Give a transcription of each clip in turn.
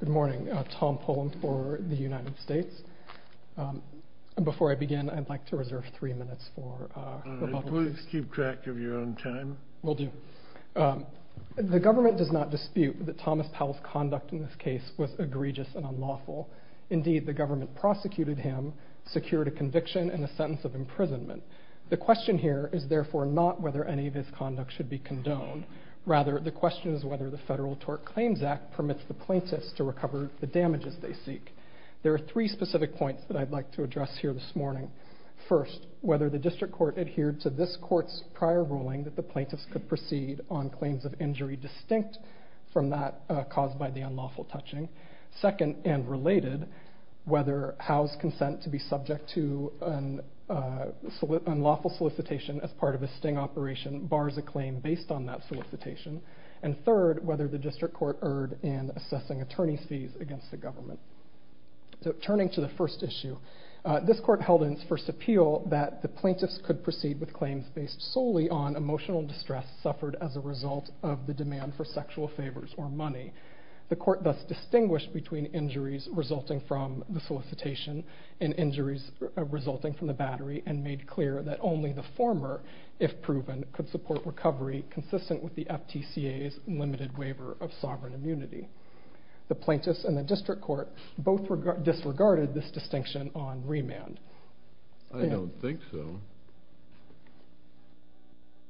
The government does not dispute that Thomas Powell's conduct in this case was egregious and unlawful. Indeed, the government prosecuted him, secured a conviction, and a sentence of imprisonment. The question here is therefore not whether any of his conduct should be condoned. Rather, the question is whether the Federal Tort Claims Act permits the plaintiffs to recover the damages they seek. There are three specific points that I'd like to address here this morning. First, whether the district court adhered to this court's prior ruling that the plaintiffs could proceed on claims of injury distinct from that caused by the unlawful touching. Second, and related, whether Howe's consent to be subject to an unlawful solicitation as part of a sting operation bars a claim based on that solicitation. And third, whether the district court erred in assessing attorney's fees against the government. Turning to the first issue, this court held in its first appeal that the plaintiffs could proceed with claims based solely on emotional distress suffered as a result of the demand for sexual favors or money. The court thus distinguished between injuries resulting from the solicitation and injuries resulting from the battery, and made clear that only the former, if proven, could support recovery consistent with the FTCA's limited waiver of sovereign immunity. The plaintiffs and the district court both disregarded this distinction on remand. I don't think so.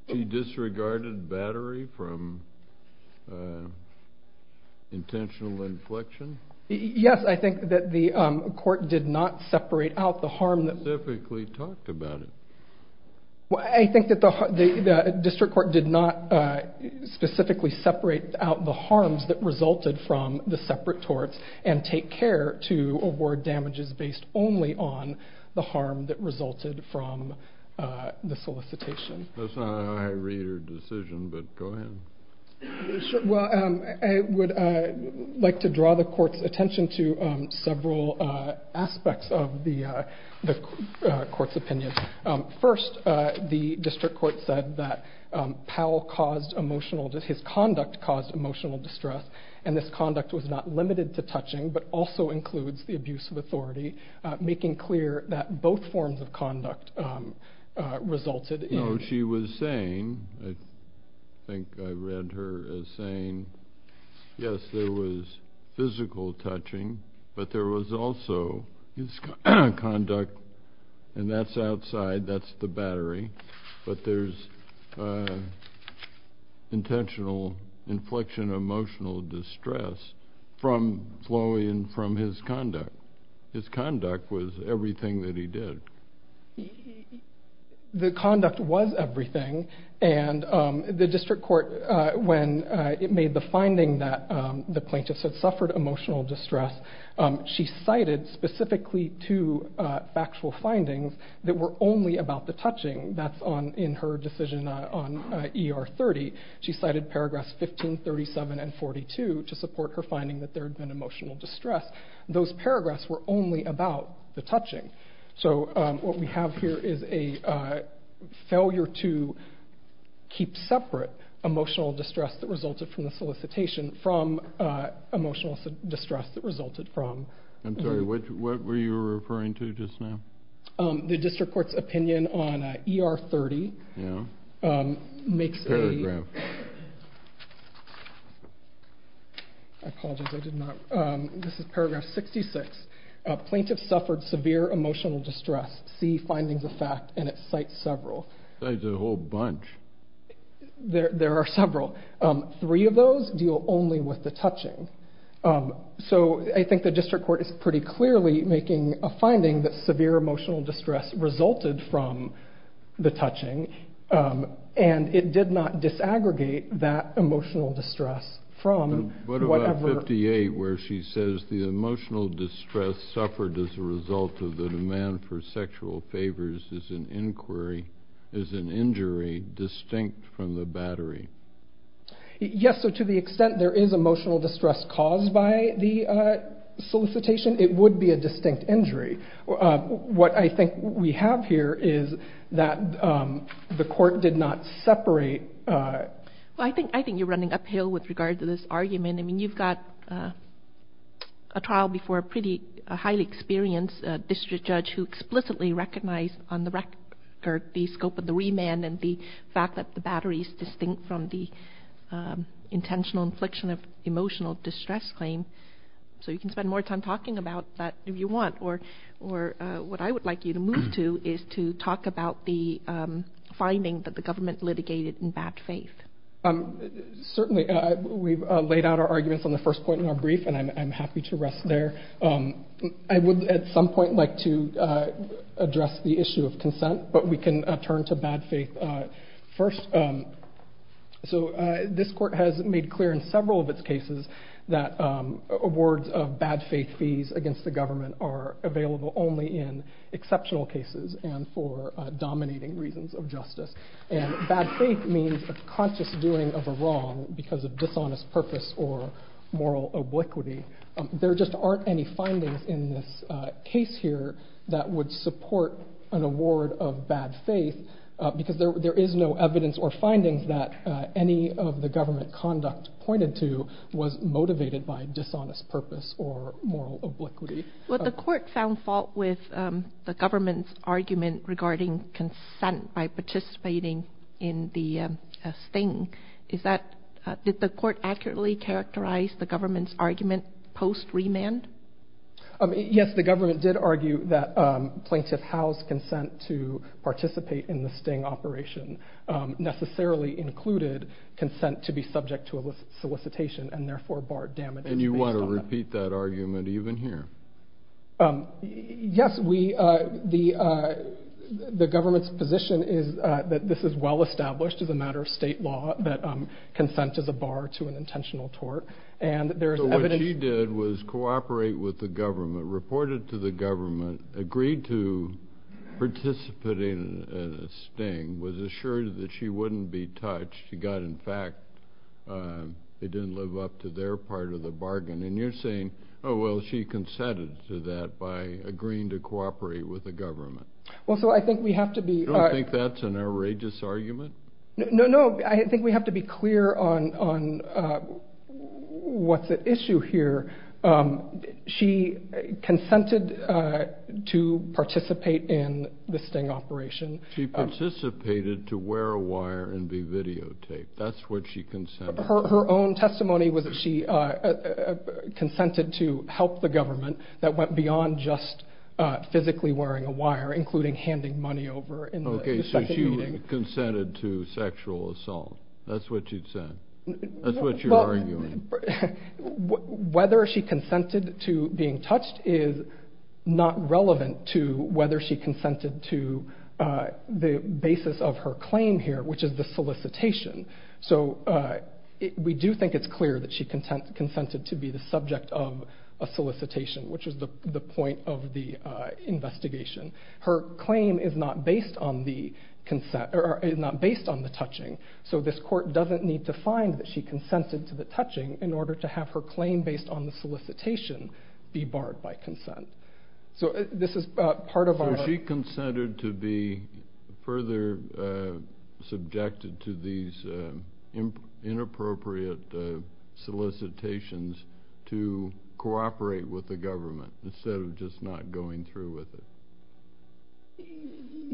You disregarded battery from intentional inflection? Yes, I think that the court did not separate out the harm that- You specifically talked about it. I think that the district court did not specifically separate out the harms that resulted from the separate torts, and take care to award damages based only on the harm that resulted from the solicitation. That's not how I read your decision, but go ahead. Well, I would like to draw the court's attention to several aspects of the court's opinion. First, the district court said that Powell caused emotional- his conduct caused emotional distress, and this conduct was not limited to touching, but also includes the abuse of authority, making clear that both forms of conduct resulted in- No, she was saying, I think I read her as saying, yes, there was physical touching, but there was also his conduct, and that's outside, that's the battery, but there's intentional inflection, emotional distress from Floyd and from his conduct. His conduct was everything that he did. The conduct was everything, and the district court, when it made the finding that the plaintiff had suffered emotional distress, she cited specifically two factual findings that were only about the touching. That's in her decision on ER 30. She cited paragraphs 15, 37, and 42 to support her finding that there had been emotional distress. Those paragraphs were only about the touching. So what we have here is a failure to keep separate emotional distress that resulted from the solicitation from emotional distress that resulted from- I'm sorry, what were you referring to just now? The district court's opinion on ER 30 makes a- Paragraph. I apologize, I did not- This is paragraph 66. Plaintiff suffered severe emotional distress. See findings of fact, and it cites several. Cites a whole bunch. There are several. Three of those deal only with the touching. So I think the district court is pretty clearly making a finding that severe emotional distress resulted from the touching, and it did not disaggregate that emotional distress from whatever- Does the emotional distress suffered as a result of the demand for sexual favors is an inquiry, is an injury distinct from the battery? Yes, so to the extent there is emotional distress caused by the solicitation, it would be a distinct injury. What I think we have here is that the court did not separate- Well, I think you're running uphill with regard to this argument. I mean, you've got a trial before a pretty highly experienced district judge who explicitly recognized on the record the scope of the remand and the fact that the battery is distinct from the intentional infliction of emotional distress claim, so you can spend more time talking about that if you want, or what I would like you to move to is to talk about the finding that the government litigated in bad faith. Certainly. We've laid out our arguments on the first point in our brief, and I'm happy to rest there. I would at some point like to address the issue of consent, but we can turn to bad faith first. So this court has made clear in several of its cases that awards of bad faith fees against the government are available only in exceptional cases and for dominating reasons of justice, and bad faith means a conscious doing of a wrong because of dishonest purpose or moral obliquity. There just aren't any findings in this case here that would support an award of bad faith because there is no evidence or findings that any of the government conduct pointed to was motivated by dishonest purpose or moral obliquity. Well, the court found fault with the government's argument regarding consent by participating in the sting. Did the court accurately characterize the government's argument post-remand? Yes, the government did argue that plaintiff Howe's consent to participate in the sting operation necessarily included consent to be subject to solicitation and therefore barred damage based on that. And you want to repeat that argument even here? Yes, the government's position is that this is well established as a matter of state law that consent is a bar to an intentional tort. So what she did was cooperate with the government, reported to the government, agreed to participate in the sting, was assured that she wouldn't be touched, she got in fact, it didn't live up to their part of the bargain. And you're saying, oh well, she consented to that by agreeing to cooperate with the government. Well, so I think we have to be... You don't think that's an outrageous argument? No, no, I think we have to be clear on what's at issue here. She consented to participate in the sting operation. She participated to wear a wire and be videotaped, that's what she consented to. Her own testimony was that she consented to help the government that went beyond just physically wearing a wire, including handing money over in the second meeting. Okay, so she consented to sexual assault, that's what she said, that's what you're arguing. Whether she consented to being touched is not relevant to whether she consented to the basis of her claim here, which is the solicitation. So we do think it's clear that she consented to be the subject of a solicitation, which is the point of the investigation. Her claim is not based on the touching, so this court doesn't need to find that she consented to the touching in order to have her claim based on the solicitation be barred by consent. So she consented to be further subjected to these inappropriate solicitations to cooperate with the government instead of just not going through with it.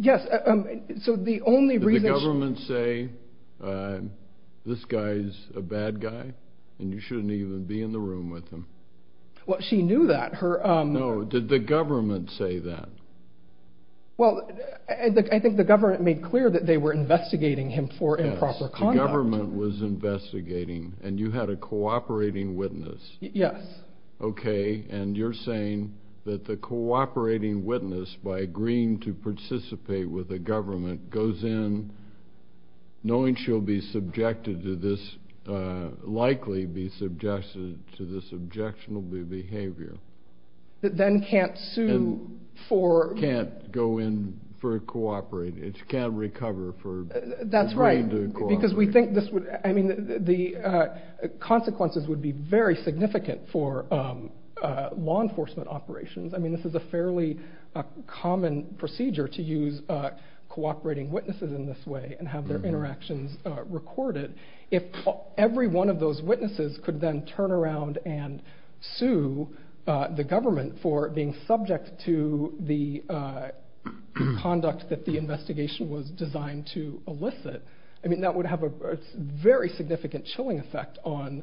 Did the government say, this guy's a bad guy and you shouldn't even be in the room with him? Well, she knew that. No, did the government say that? Well, I think the government made clear that they were investigating him for improper conduct. The government was investigating and you had a cooperating witness. Yes. Okay, and you're saying that the cooperating witness, by agreeing to participate with the government, goes in knowing she'll be subjected to this, likely be subjected to this objectionable behavior. That then can't sue for... Can't go in for cooperating, can't recover for agreeing to cooperate. Because we think the consequences would be very significant for law enforcement operations. I mean, this is a fairly common procedure to use cooperating witnesses in this way and have their interactions recorded. If every one of those witnesses could then turn around and sue the government for being subject to the conduct that the investigation was designed to elicit, that would have a very significant chilling effect on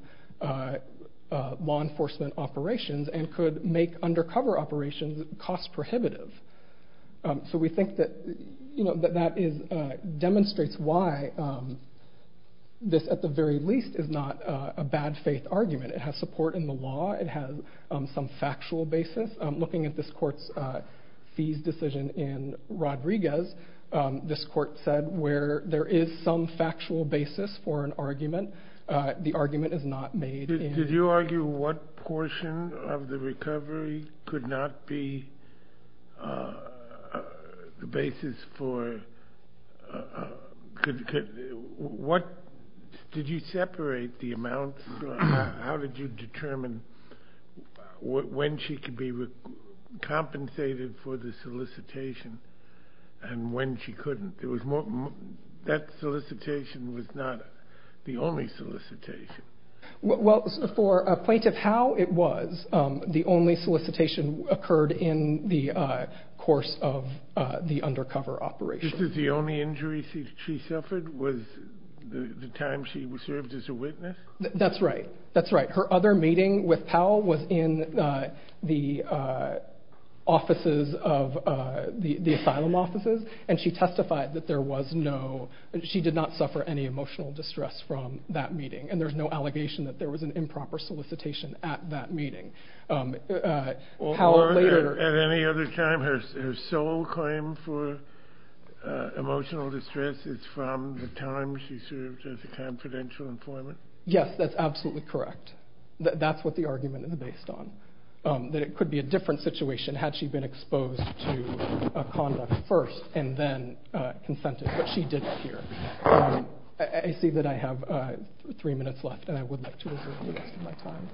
law enforcement operations and could make undercover operations cost prohibitive. So we think that demonstrates why this, at the very least, is not a bad faith argument. It has support in the law. It has some factual basis. Looking at this court's fees decision in Rodriguez, this court said where there is some factual basis for an argument, the argument is not made in... Did you argue what portion of the recovery could not be the basis for... Did you separate the amounts? How did you determine when she could be compensated for the solicitation and when she couldn't? That solicitation was not the only solicitation. Well, for a plaintiff, how it was, the only solicitation occurred in the course of the undercover operation. Just as the only injury she suffered was the time she served as a witness? That's right. That's right. Her other meeting with Powell was in the offices of the asylum offices, and she testified that there was no... She did not suffer any emotional distress from that meeting, and there's no allegation that there was an improper solicitation at that meeting. At any other time, her sole claim for emotional distress is from the time she served as a confidential informant? Yes, that's absolutely correct. That's what the argument is based on, that it could be a different situation had she been exposed to conduct first and then consented, but she didn't here. I see that I have three minutes left, and I would like to reserve the rest of my time.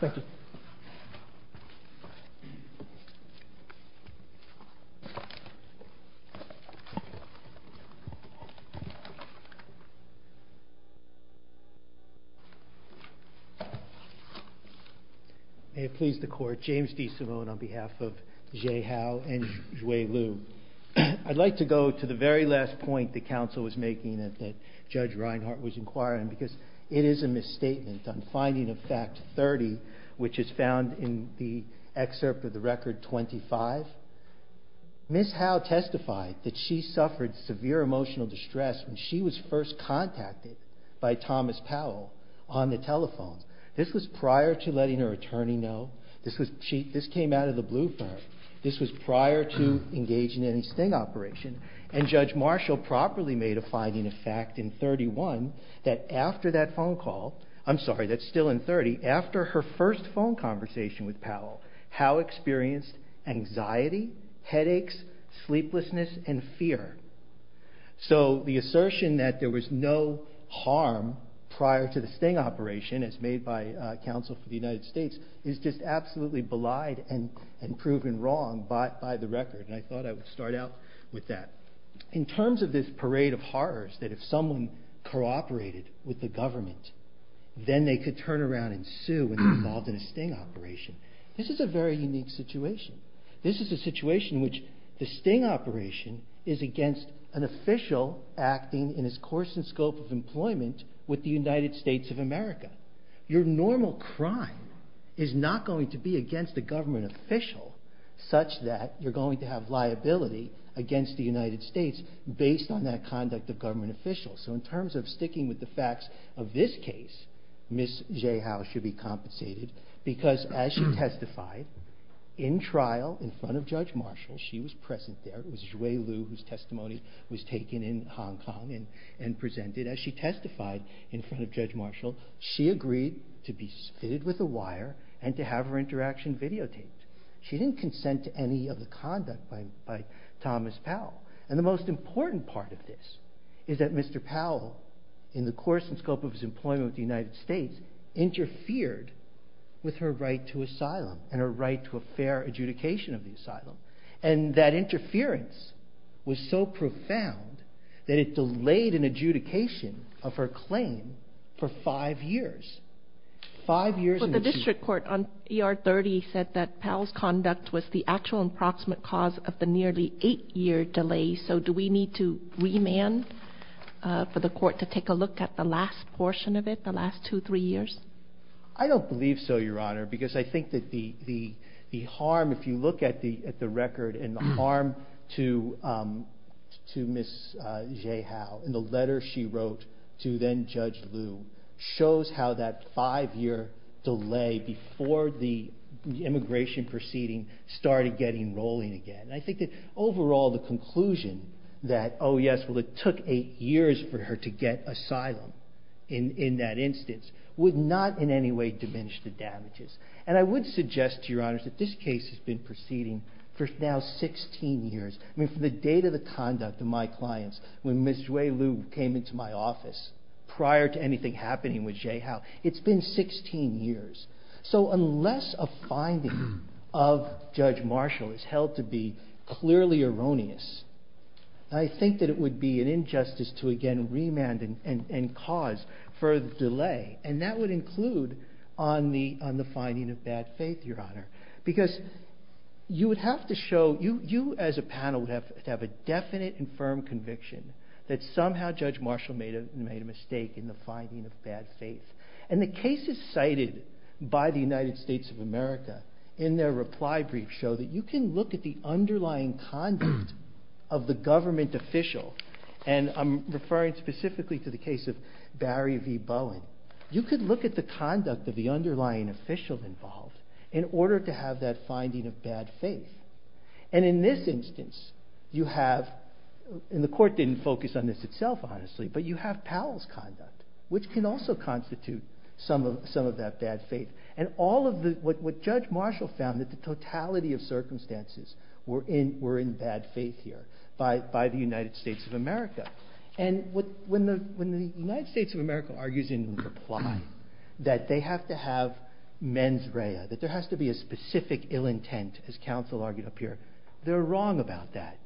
Thank you. May it please the Court, James D. Simone on behalf of Zhe Hao and Zhui Liu. I'd like to go to the very last point the counsel was making that Judge Reinhart was inquiring, because it is a misstatement on finding of fact 30, which is found in the excerpt of the record 25. Ms. Hao testified that she suffered severe emotional distress when she was first contacted by Thomas Powell on the telephone. This was prior to letting her attorney know. This came out of the blue for her. This was prior to engaging in a sting operation, and Judge Marshall properly made a finding of fact in 31 that after that phone call, I'm sorry, that's still in 30, after her first phone conversation with Powell, Hao experienced anxiety, headaches, sleeplessness, and fear. So the assertion that there was no harm prior to the sting operation, as made by counsel for the United States, is just absolutely belied and proven wrong by the record, and I thought I would start out with that. In terms of this parade of horrors that if someone cooperated with the government, then they could turn around and sue when they were involved in a sting operation, this is a very unique situation. This is a situation in which the sting operation is against an official acting in his course and scope of employment with the United States of America. Your normal crime is not going to be against a government official such that you're going to have liability against the United States based on that conduct of government officials. So in terms of sticking with the facts of this case, Ms. Zhe Hao should be compensated because as she testified in trial in front of Judge Marshall, she was present there, it was Zhui Liu whose testimony was taken in Hong Kong and presented. As she testified in front of Judge Marshall, she agreed to be fitted with a wire and to have her interaction videotaped. She didn't consent to any of the conduct by Thomas Powell. And the most important part of this is that Mr. Powell, in the course and scope of his employment with the United States, interfered with her right to asylum and her right to a fair adjudication of the asylum. And that interference was so profound that it delayed an adjudication of her claim for five years. The district court on ER 30 said that Powell's conduct was the actual approximate cause of the nearly eight year delay. So do we need to remand for the court to take a look at the last portion of it, the last two, three years? I don't believe so, Your Honor, because I think that the harm, if you look at the record, and the harm to Ms. Zhe Hao in the letter she wrote to then Judge Liu shows how that five year delay before the immigration proceeding started getting rolling again. And I think that overall the conclusion that, oh yes, well it took eight years for her to get asylum in that instance, would not in any way diminish the damages. And I would suggest, Your Honor, that this case has been proceeding for now 16 years. I mean from the date of the conduct of my clients, when Ms. Zhe Liu came into my office, prior to anything happening with Zhe Hao, it's been 16 years. So unless a finding of Judge Marshall is held to be clearly erroneous, I think that it would be an injustice to again remand and cause further delay. And that would include on the finding of bad faith, Your Honor. Because you would have to show, you as a panel would have to have a definite and firm conviction that somehow Judge Marshall made a mistake in the finding of bad faith. And the cases cited by the United States of America in their reply brief show that you can look at the underlying conduct of the government official, and I'm referring specifically to the case of Barry V. Bowen, you could look at the conduct of the underlying official involved in order to have that finding of bad faith. And in this instance you have, and the court didn't focus on this itself honestly, but you have Powell's conduct, which can also constitute some of that bad faith. And all of what Judge Marshall found that the totality of circumstances were in bad faith here by the United States of America. And when the United States of America argues in reply that they have to have mens rea, that there has to be a specific ill intent, as counsel argued up here, they're wrong about that.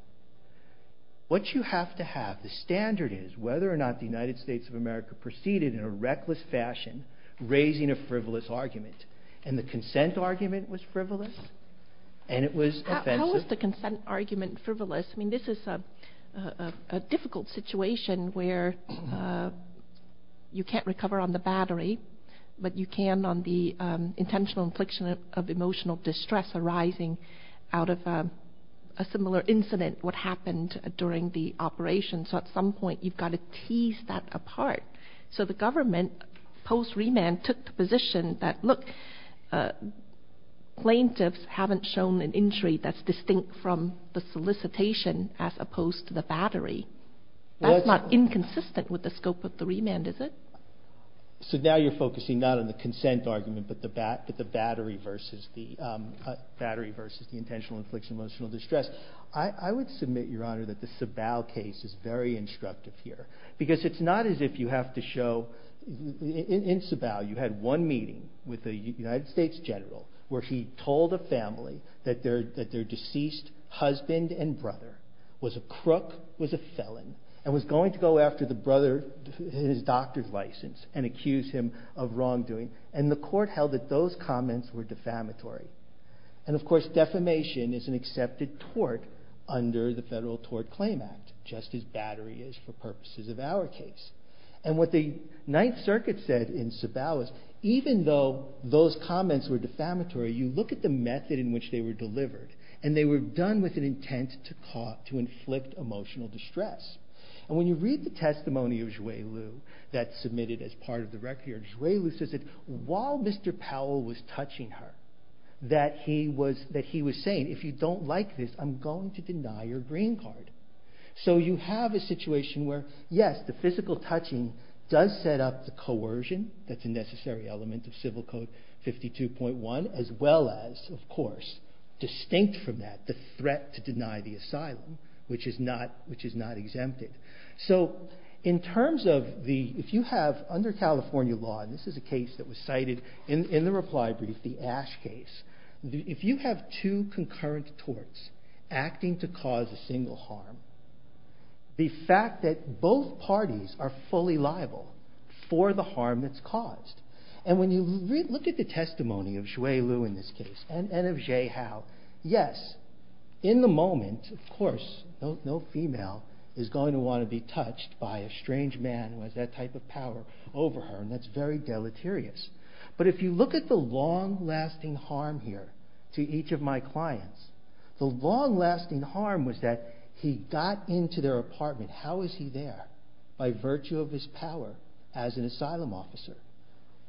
What you have to have, the standard is whether or not the United States of America proceeded in a reckless fashion, raising a frivolous argument. And the consent argument was frivolous, and it was offensive. How is the consent argument frivolous? I mean this is a difficult situation where you can't recover on the battery, but you can on the intentional infliction of emotional distress arising out of a similar incident, what happened during the operation. So at some point you've got to tease that apart. So the government post-remand took the position that, look, plaintiffs haven't shown an injury that's distinct from the solicitation as opposed to the battery. That's not inconsistent with the scope of the remand, is it? So now you're focusing not on the consent argument, but the battery versus the intentional infliction of emotional distress. I would submit, Your Honor, that the Sabau case is very instructive here, because it's not as if you have to show, in Sabau you had one meeting with a United States general where he told a family that their deceased husband and brother was a crook, was a felon, and was going to go after the brother, his doctor's license, and accuse him of wrongdoing. And the court held that those comments were defamatory. And, of course, defamation is an accepted tort under the Federal Tort Claim Act, just as battery is for purposes of our case. And what the Ninth Circuit said in Sabau is, even though those comments were defamatory, you look at the method in which they were delivered, and they were done with an intent to inflict emotional distress. And when you read the testimony of Xue Lu that's submitted as part of the record, Xue Lu says that while Mr. Powell was touching her, that he was saying, if you don't like this, I'm going to deny your green card. So you have a situation where, yes, the physical touching does set up the coercion, that's a necessary element of Civil Code 52.1, as well as, of course, distinct from that, the threat to deny the asylum, which is not exempted. So, in terms of the, if you have, under California law, and this is a case that was cited in the reply brief, the Ash case, if you have two concurrent torts acting to cause a single harm, the fact that both parties are fully liable for the harm that's caused. And when you look at the testimony of Xue Lu in this case, and of Zhe Hao, yes, in the moment, of course, no female is going to want to be touched by a strange man who has that type of power over her, and that's very deleterious. But if you look at the long-lasting harm here to each of my clients, the long-lasting harm was that he got into their apartment. How was he there? By virtue of his power as an asylum officer.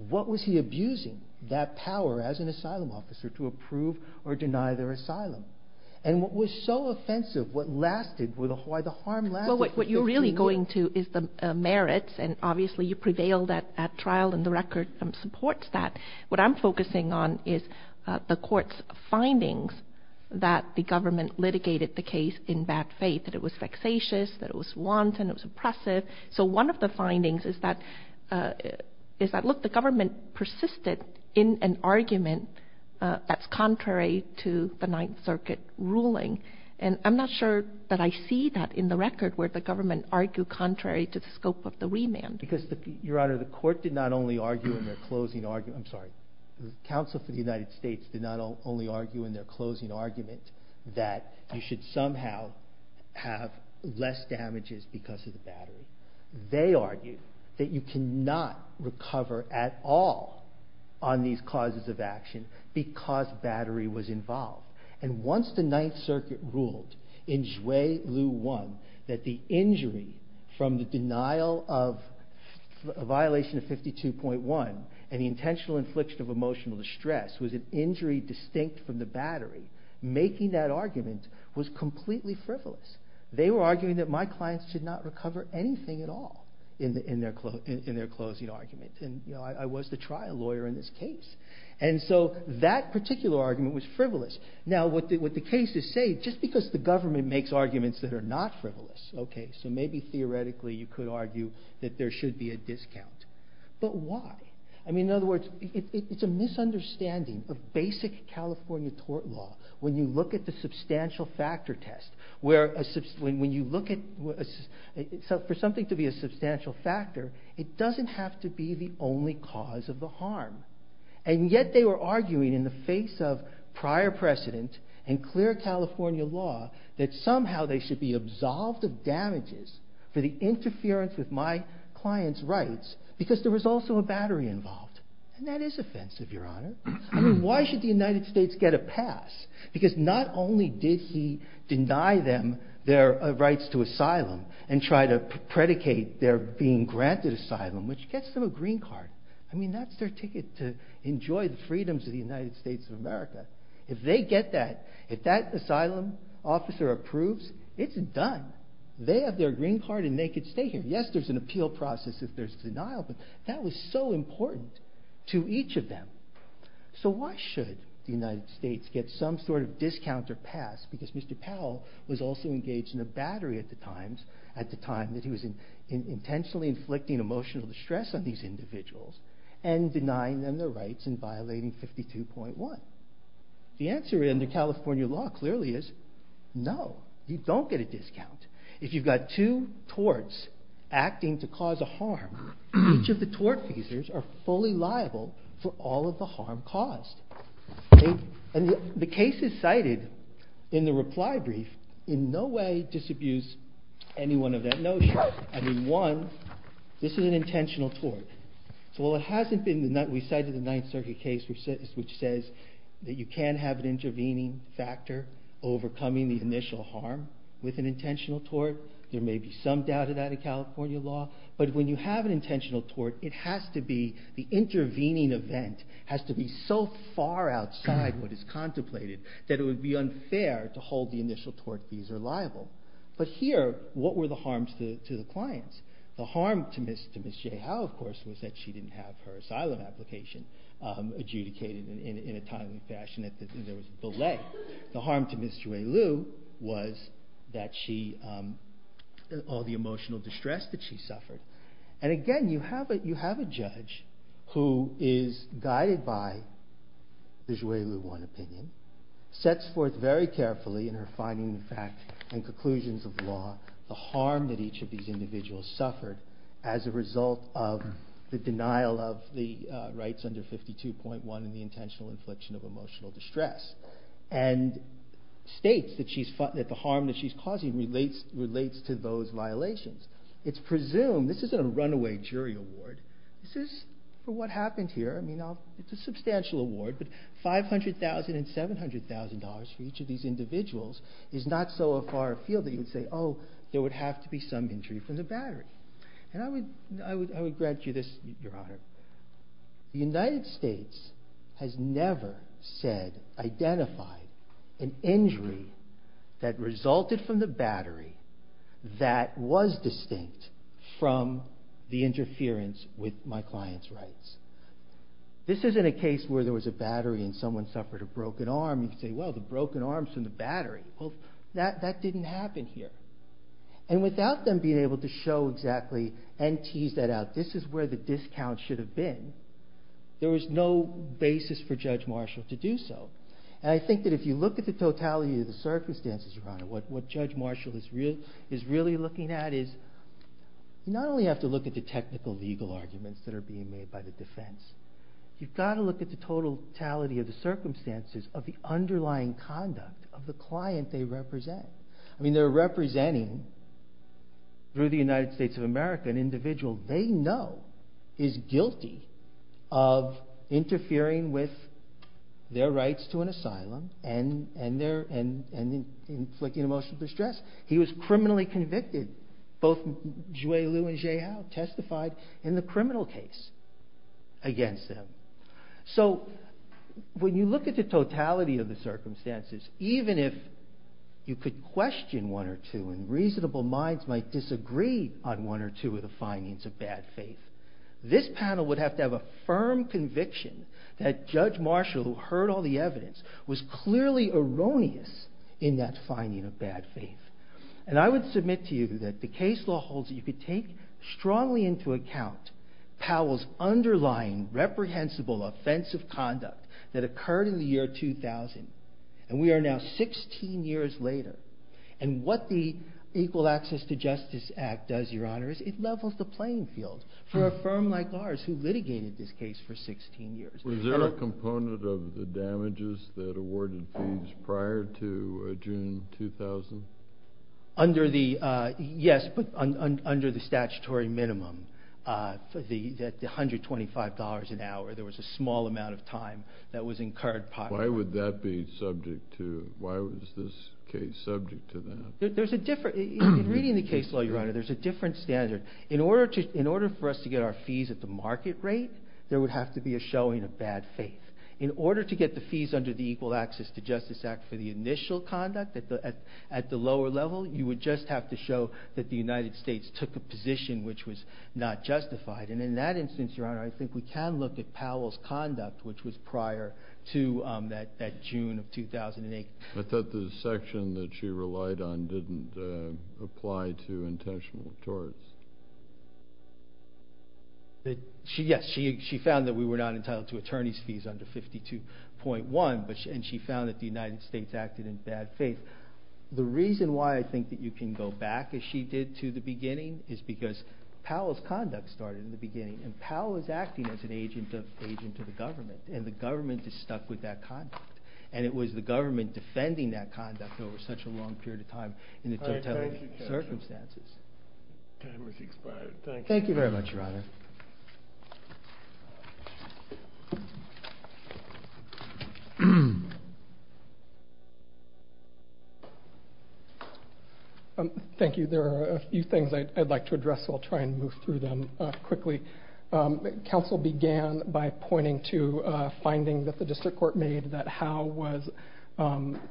What was he abusing that power as an asylum officer to approve or deny their asylum? And what was so offensive, what lasted, why the harm lasted? Well, what you're really going to is the merits, and obviously you prevailed at trial, and the record supports that. What I'm focusing on is the court's findings that the government litigated the case in bad faith, that it was vexatious, that it was wanton, it was oppressive. So one of the findings is that, look, the government persisted in an argument that's contrary to the Ninth Circuit ruling, and I'm not sure that I see that in the record where the government argued contrary to the scope of the remand. Because, Your Honor, the court did not only argue in their closing argument, I'm sorry, the Council for the United States did not only argue in their closing argument that you should somehow have less damages because of the battery. They argued that you cannot recover at all on these causes of action because battery was involved. And once the Ninth Circuit ruled in Juillet 1 that the injury from the denial of a violation of 52.1 and the intentional infliction of emotional distress was an injury distinct from the battery, making that argument was completely frivolous. They were arguing that my clients should not recover anything at all in their closing argument. And I was the trial lawyer in this case. And so that particular argument was frivolous. Now what the cases say, just because the government makes arguments that are not frivolous, okay, so maybe theoretically you could argue that there should be a discount. But why? I mean, in other words, it's a misunderstanding of basic California tort law when you look at the substantial factor test. For something to be a substantial factor, it doesn't have to be the only cause of the harm. And yet they were arguing in the face of prior precedent and clear California law that somehow they should be absolved of damages for the interference with my client's rights because there was also a battery involved. And that is offensive, Your Honor. I mean, why should the United States get a pass? Because not only did he deny them their rights to asylum and try to predicate their being granted asylum, which gets them a green card. I mean, that's their ticket to enjoy the freedoms of the United States of America. If they get that, if that asylum officer approves, it's done. They have their green card and they can stay here. Yes, there's an appeal process if there's denial, but that was so important to each of them. So why should the United States get some sort of discount or pass because Mr. Powell was also engaged in a battery at the time that he was intentionally inflicting emotional distress on these individuals and denying them their rights and violating 52.1. The answer in the California law clearly is no, you don't get a discount. If you've got two torts acting to cause a harm, each of the tort feasors are fully liable for all of the harm caused. And the cases cited in the reply brief in no way disabuse anyone of that notion. I mean, one, this is an intentional tort. So while it hasn't been, we cited the Ninth Circuit case which says that you can have an intervening factor overcoming the initial harm with an intentional tort. There may be some doubt of that in California law, but when you have an intentional tort, it has to be the intervening event has to be so far outside what is contemplated that it would be unfair to hold the initial tort feasor liable. But here, what were the harms to the clients? The harm to Ms. J. Howe, of course, was that she didn't have her asylum application adjudicated in a timely fashion and there was a delay. The harm to Ms. Jouelou was that she, all the emotional distress that she suffered. And again, you have a judge who is guided by the Jouelou I opinion, sets forth very carefully in her findings and conclusions of law the harm that each of these individuals suffered as a result of the denial of the rights under 52.1 and the intentional infliction of emotional distress. And states that the harm that she's causing relates to those violations. It's presumed, this isn't a runaway jury award, this is what happened here, it's a substantial award, but $500,000 and $700,000 for each of these individuals is not so far afield that you would say, oh, there would have to be some injury from the battery. And I would grant you this, Your Honor. The United States has never said, identified an injury that resulted from the battery that was distinct from the interference with my client's rights. This isn't a case where there was a battery and someone suffered a broken arm and you say, well, the broken arm is from the battery. Well, that didn't happen here. And without them being able to show exactly and tease that out, this is where the discount should have been, there was no basis for Judge Marshall to do so. And I think that if you look at the totality of the circumstances, Your Honor, what Judge Marshall is really looking at is, you not only have to look at the technical legal arguments that are being made by the defense, you've got to look at the totality of the circumstances of the underlying conduct of the client they represent. I mean, they're representing, through the United States of America, an individual they know is guilty of interfering with their rights to an asylum and inflicting emotional distress. He was criminally convicted. Both Zhui Liu and Zhe Hao testified in the criminal case against them. So, when you look at the totality of the circumstances, even if you could question one or two and reasonable minds might disagree on one or two of the findings of bad faith, this panel would have to have a firm conviction that Judge Marshall, who heard all the evidence, was clearly erroneous in that finding of bad faith. And I would submit to you that the case law holds that you could take strongly into account Powell's underlying, reprehensible, offensive conduct that occurred in the year 2000. And we are now 16 years later. And what the Equal Access to Justice Act does, Your Honor, is it levels the playing field for a firm like ours who litigated this case for 16 years. Was there a component of the damages that awarded fees prior to June 2000? Yes, but under the statutory minimum. The $125 an hour, there was a small amount of time that was incurred. Why was this case subject to that? Reading the case law, Your Honor, there's a different standard. In order for us to get our fees at the market rate, there would have to be a showing of bad faith. In order to get the fees under the Equal Access to Justice Act for the initial conduct at the lower level, you would just have to show that the United States took a position which was not justified. And in that instance, Your Honor, I think we can look at Powell's conduct which was prior to that June of 2008. I thought the section that she relied on didn't apply to intentional torts. Yes, she found that we were not entitled to attorney's fees under 52.1, and she found that the United States acted in bad faith. The reason why I think that you can go back, as she did to the beginning, is because Powell's conduct started in the beginning, and Powell is acting as an agent of the government, and the government is stuck with that conduct. And it was the government defending that conduct over such a long period of time in the totality of circumstances. All right. Thank you, Judge. Time has expired. Thank you. Thank you very much, Your Honor. Thank you. There are a few things I'd like to address, so I'll try and move through them quickly. Counsel began by pointing to a finding that the district court made that Howe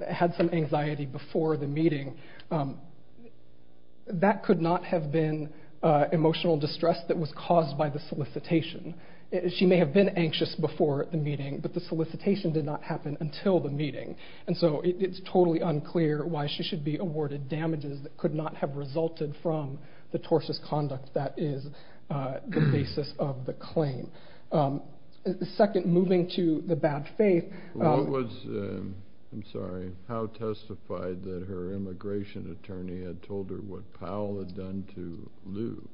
had some anxiety before the meeting. That could not have been emotional distress that was caused by the solicitation. She may have been anxious before the meeting, but the solicitation did not happen until the meeting. And so it's totally unclear why she should be awarded damages that could not have resulted from the tortious conduct that is the basis of the claim. Second, moving to the bad faith. I'm sorry. Howe testified that her immigration attorney had told her what Powell had done to Lou,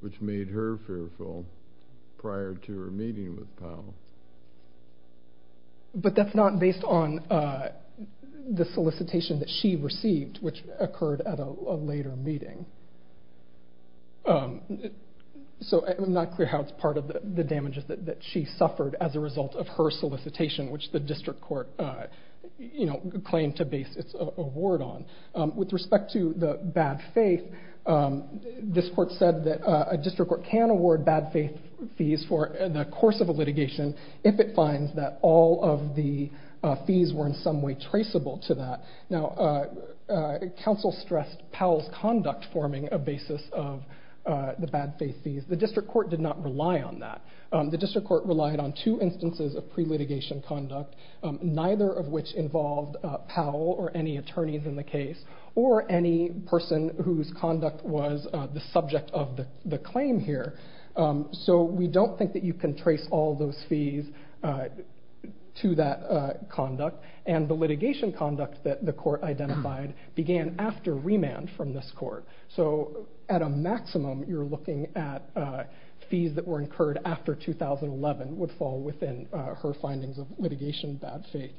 which made her fearful prior to her meeting with Powell. But that's not based on the solicitation that she received, which occurred at a later meeting. So it's not clear how it's part of the damages that she suffered as a result of her solicitation, which the district court claimed to base its award on. With respect to the bad faith, this court said that a district court can award bad faith fees for the course of a litigation if it finds that all of the fees were in some way traceable to that. Now, counsel stressed Powell's conduct forming a basis of the bad faith fees. The district court did not rely on that. The district court relied on two instances of pre-litigation conduct, neither of which involved Powell or any attorneys in the case or any person whose conduct was the subject of the claim here. So we don't think that you can trace all those fees to that conduct. And the litigation conduct that the court identified began after remand from this court. So at a maximum, you're looking at fees that were incurred after 2011 would fall within her findings of litigation bad faith.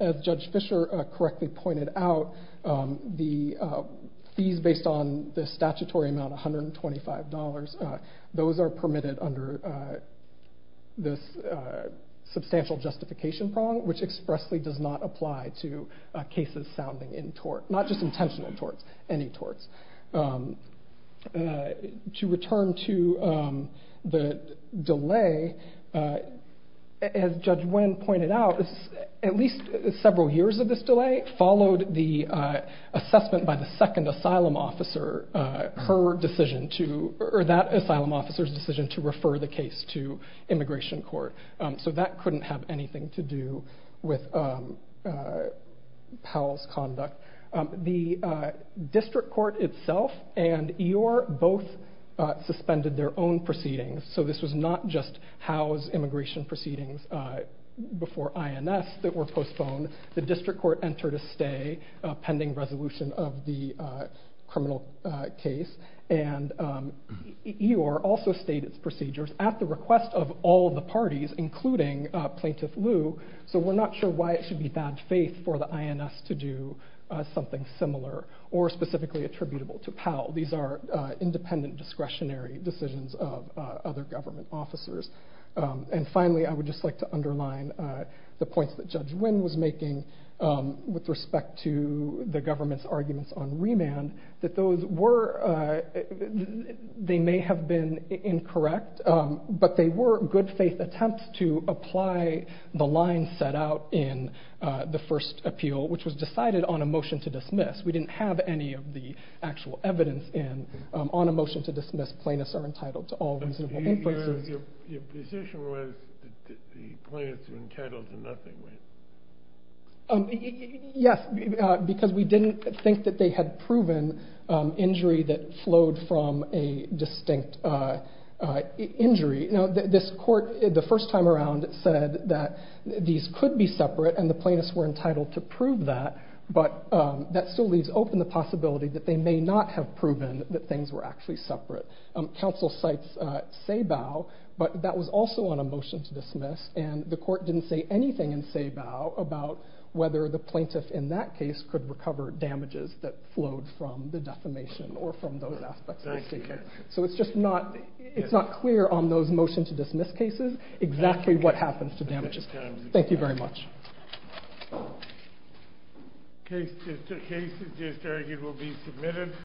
As Judge Fischer correctly pointed out, the fees based on the statutory amount, $125, those are permitted under this substantial justification prong, which expressly does not apply to cases sounding in tort, not just intentional torts, any torts. To return to the delay, as Judge Nguyen pointed out, at least several years of this delay followed the assessment by the second asylum officer, her decision to, or that asylum officer's decision to refer the case to immigration court. So that couldn't have anything to do with Powell's conduct. The district court itself and Eeyore both suspended their own proceedings. So this was not just Howe's immigration proceedings before INS that were postponed. The district court entered a stay pending resolution of the criminal case. And Eeyore also stayed its procedures at the request of all the parties, including Plaintiff Liu. So we're not sure why it should be bad faith for the INS to do something similar or specifically attributable to Powell. These are independent discretionary decisions of other government officers. And finally, I would just like to underline the points that Judge Nguyen was making with respect to the government's arguments on remand, that those were, they may have been incorrect, but they were good faith attempts to apply the line set out in the first appeal, which was decided on a motion to dismiss. We didn't have any of the actual evidence in. On a motion to dismiss, plaintiffs are entitled to all reasonable inferences. Your position was that the plaintiffs were entitled to nothing, right? Yes, because we didn't think that they had proven injury that flowed from a distinct injury. This court, the first time around, said that these could be separate and the plaintiffs were entitled to prove that, but that still leaves open the possibility that they may not have proven that things were actually separate. Counsel cites Sabau, but that was also on a motion to dismiss, and the court didn't say anything in Sabau about whether the plaintiff in that case could recover damages that flowed from the defamation or from those aspects of the case. So it's just not clear on those motion to dismiss cases exactly what happens to damages. Thank you very much. Cases just argued will be submitted.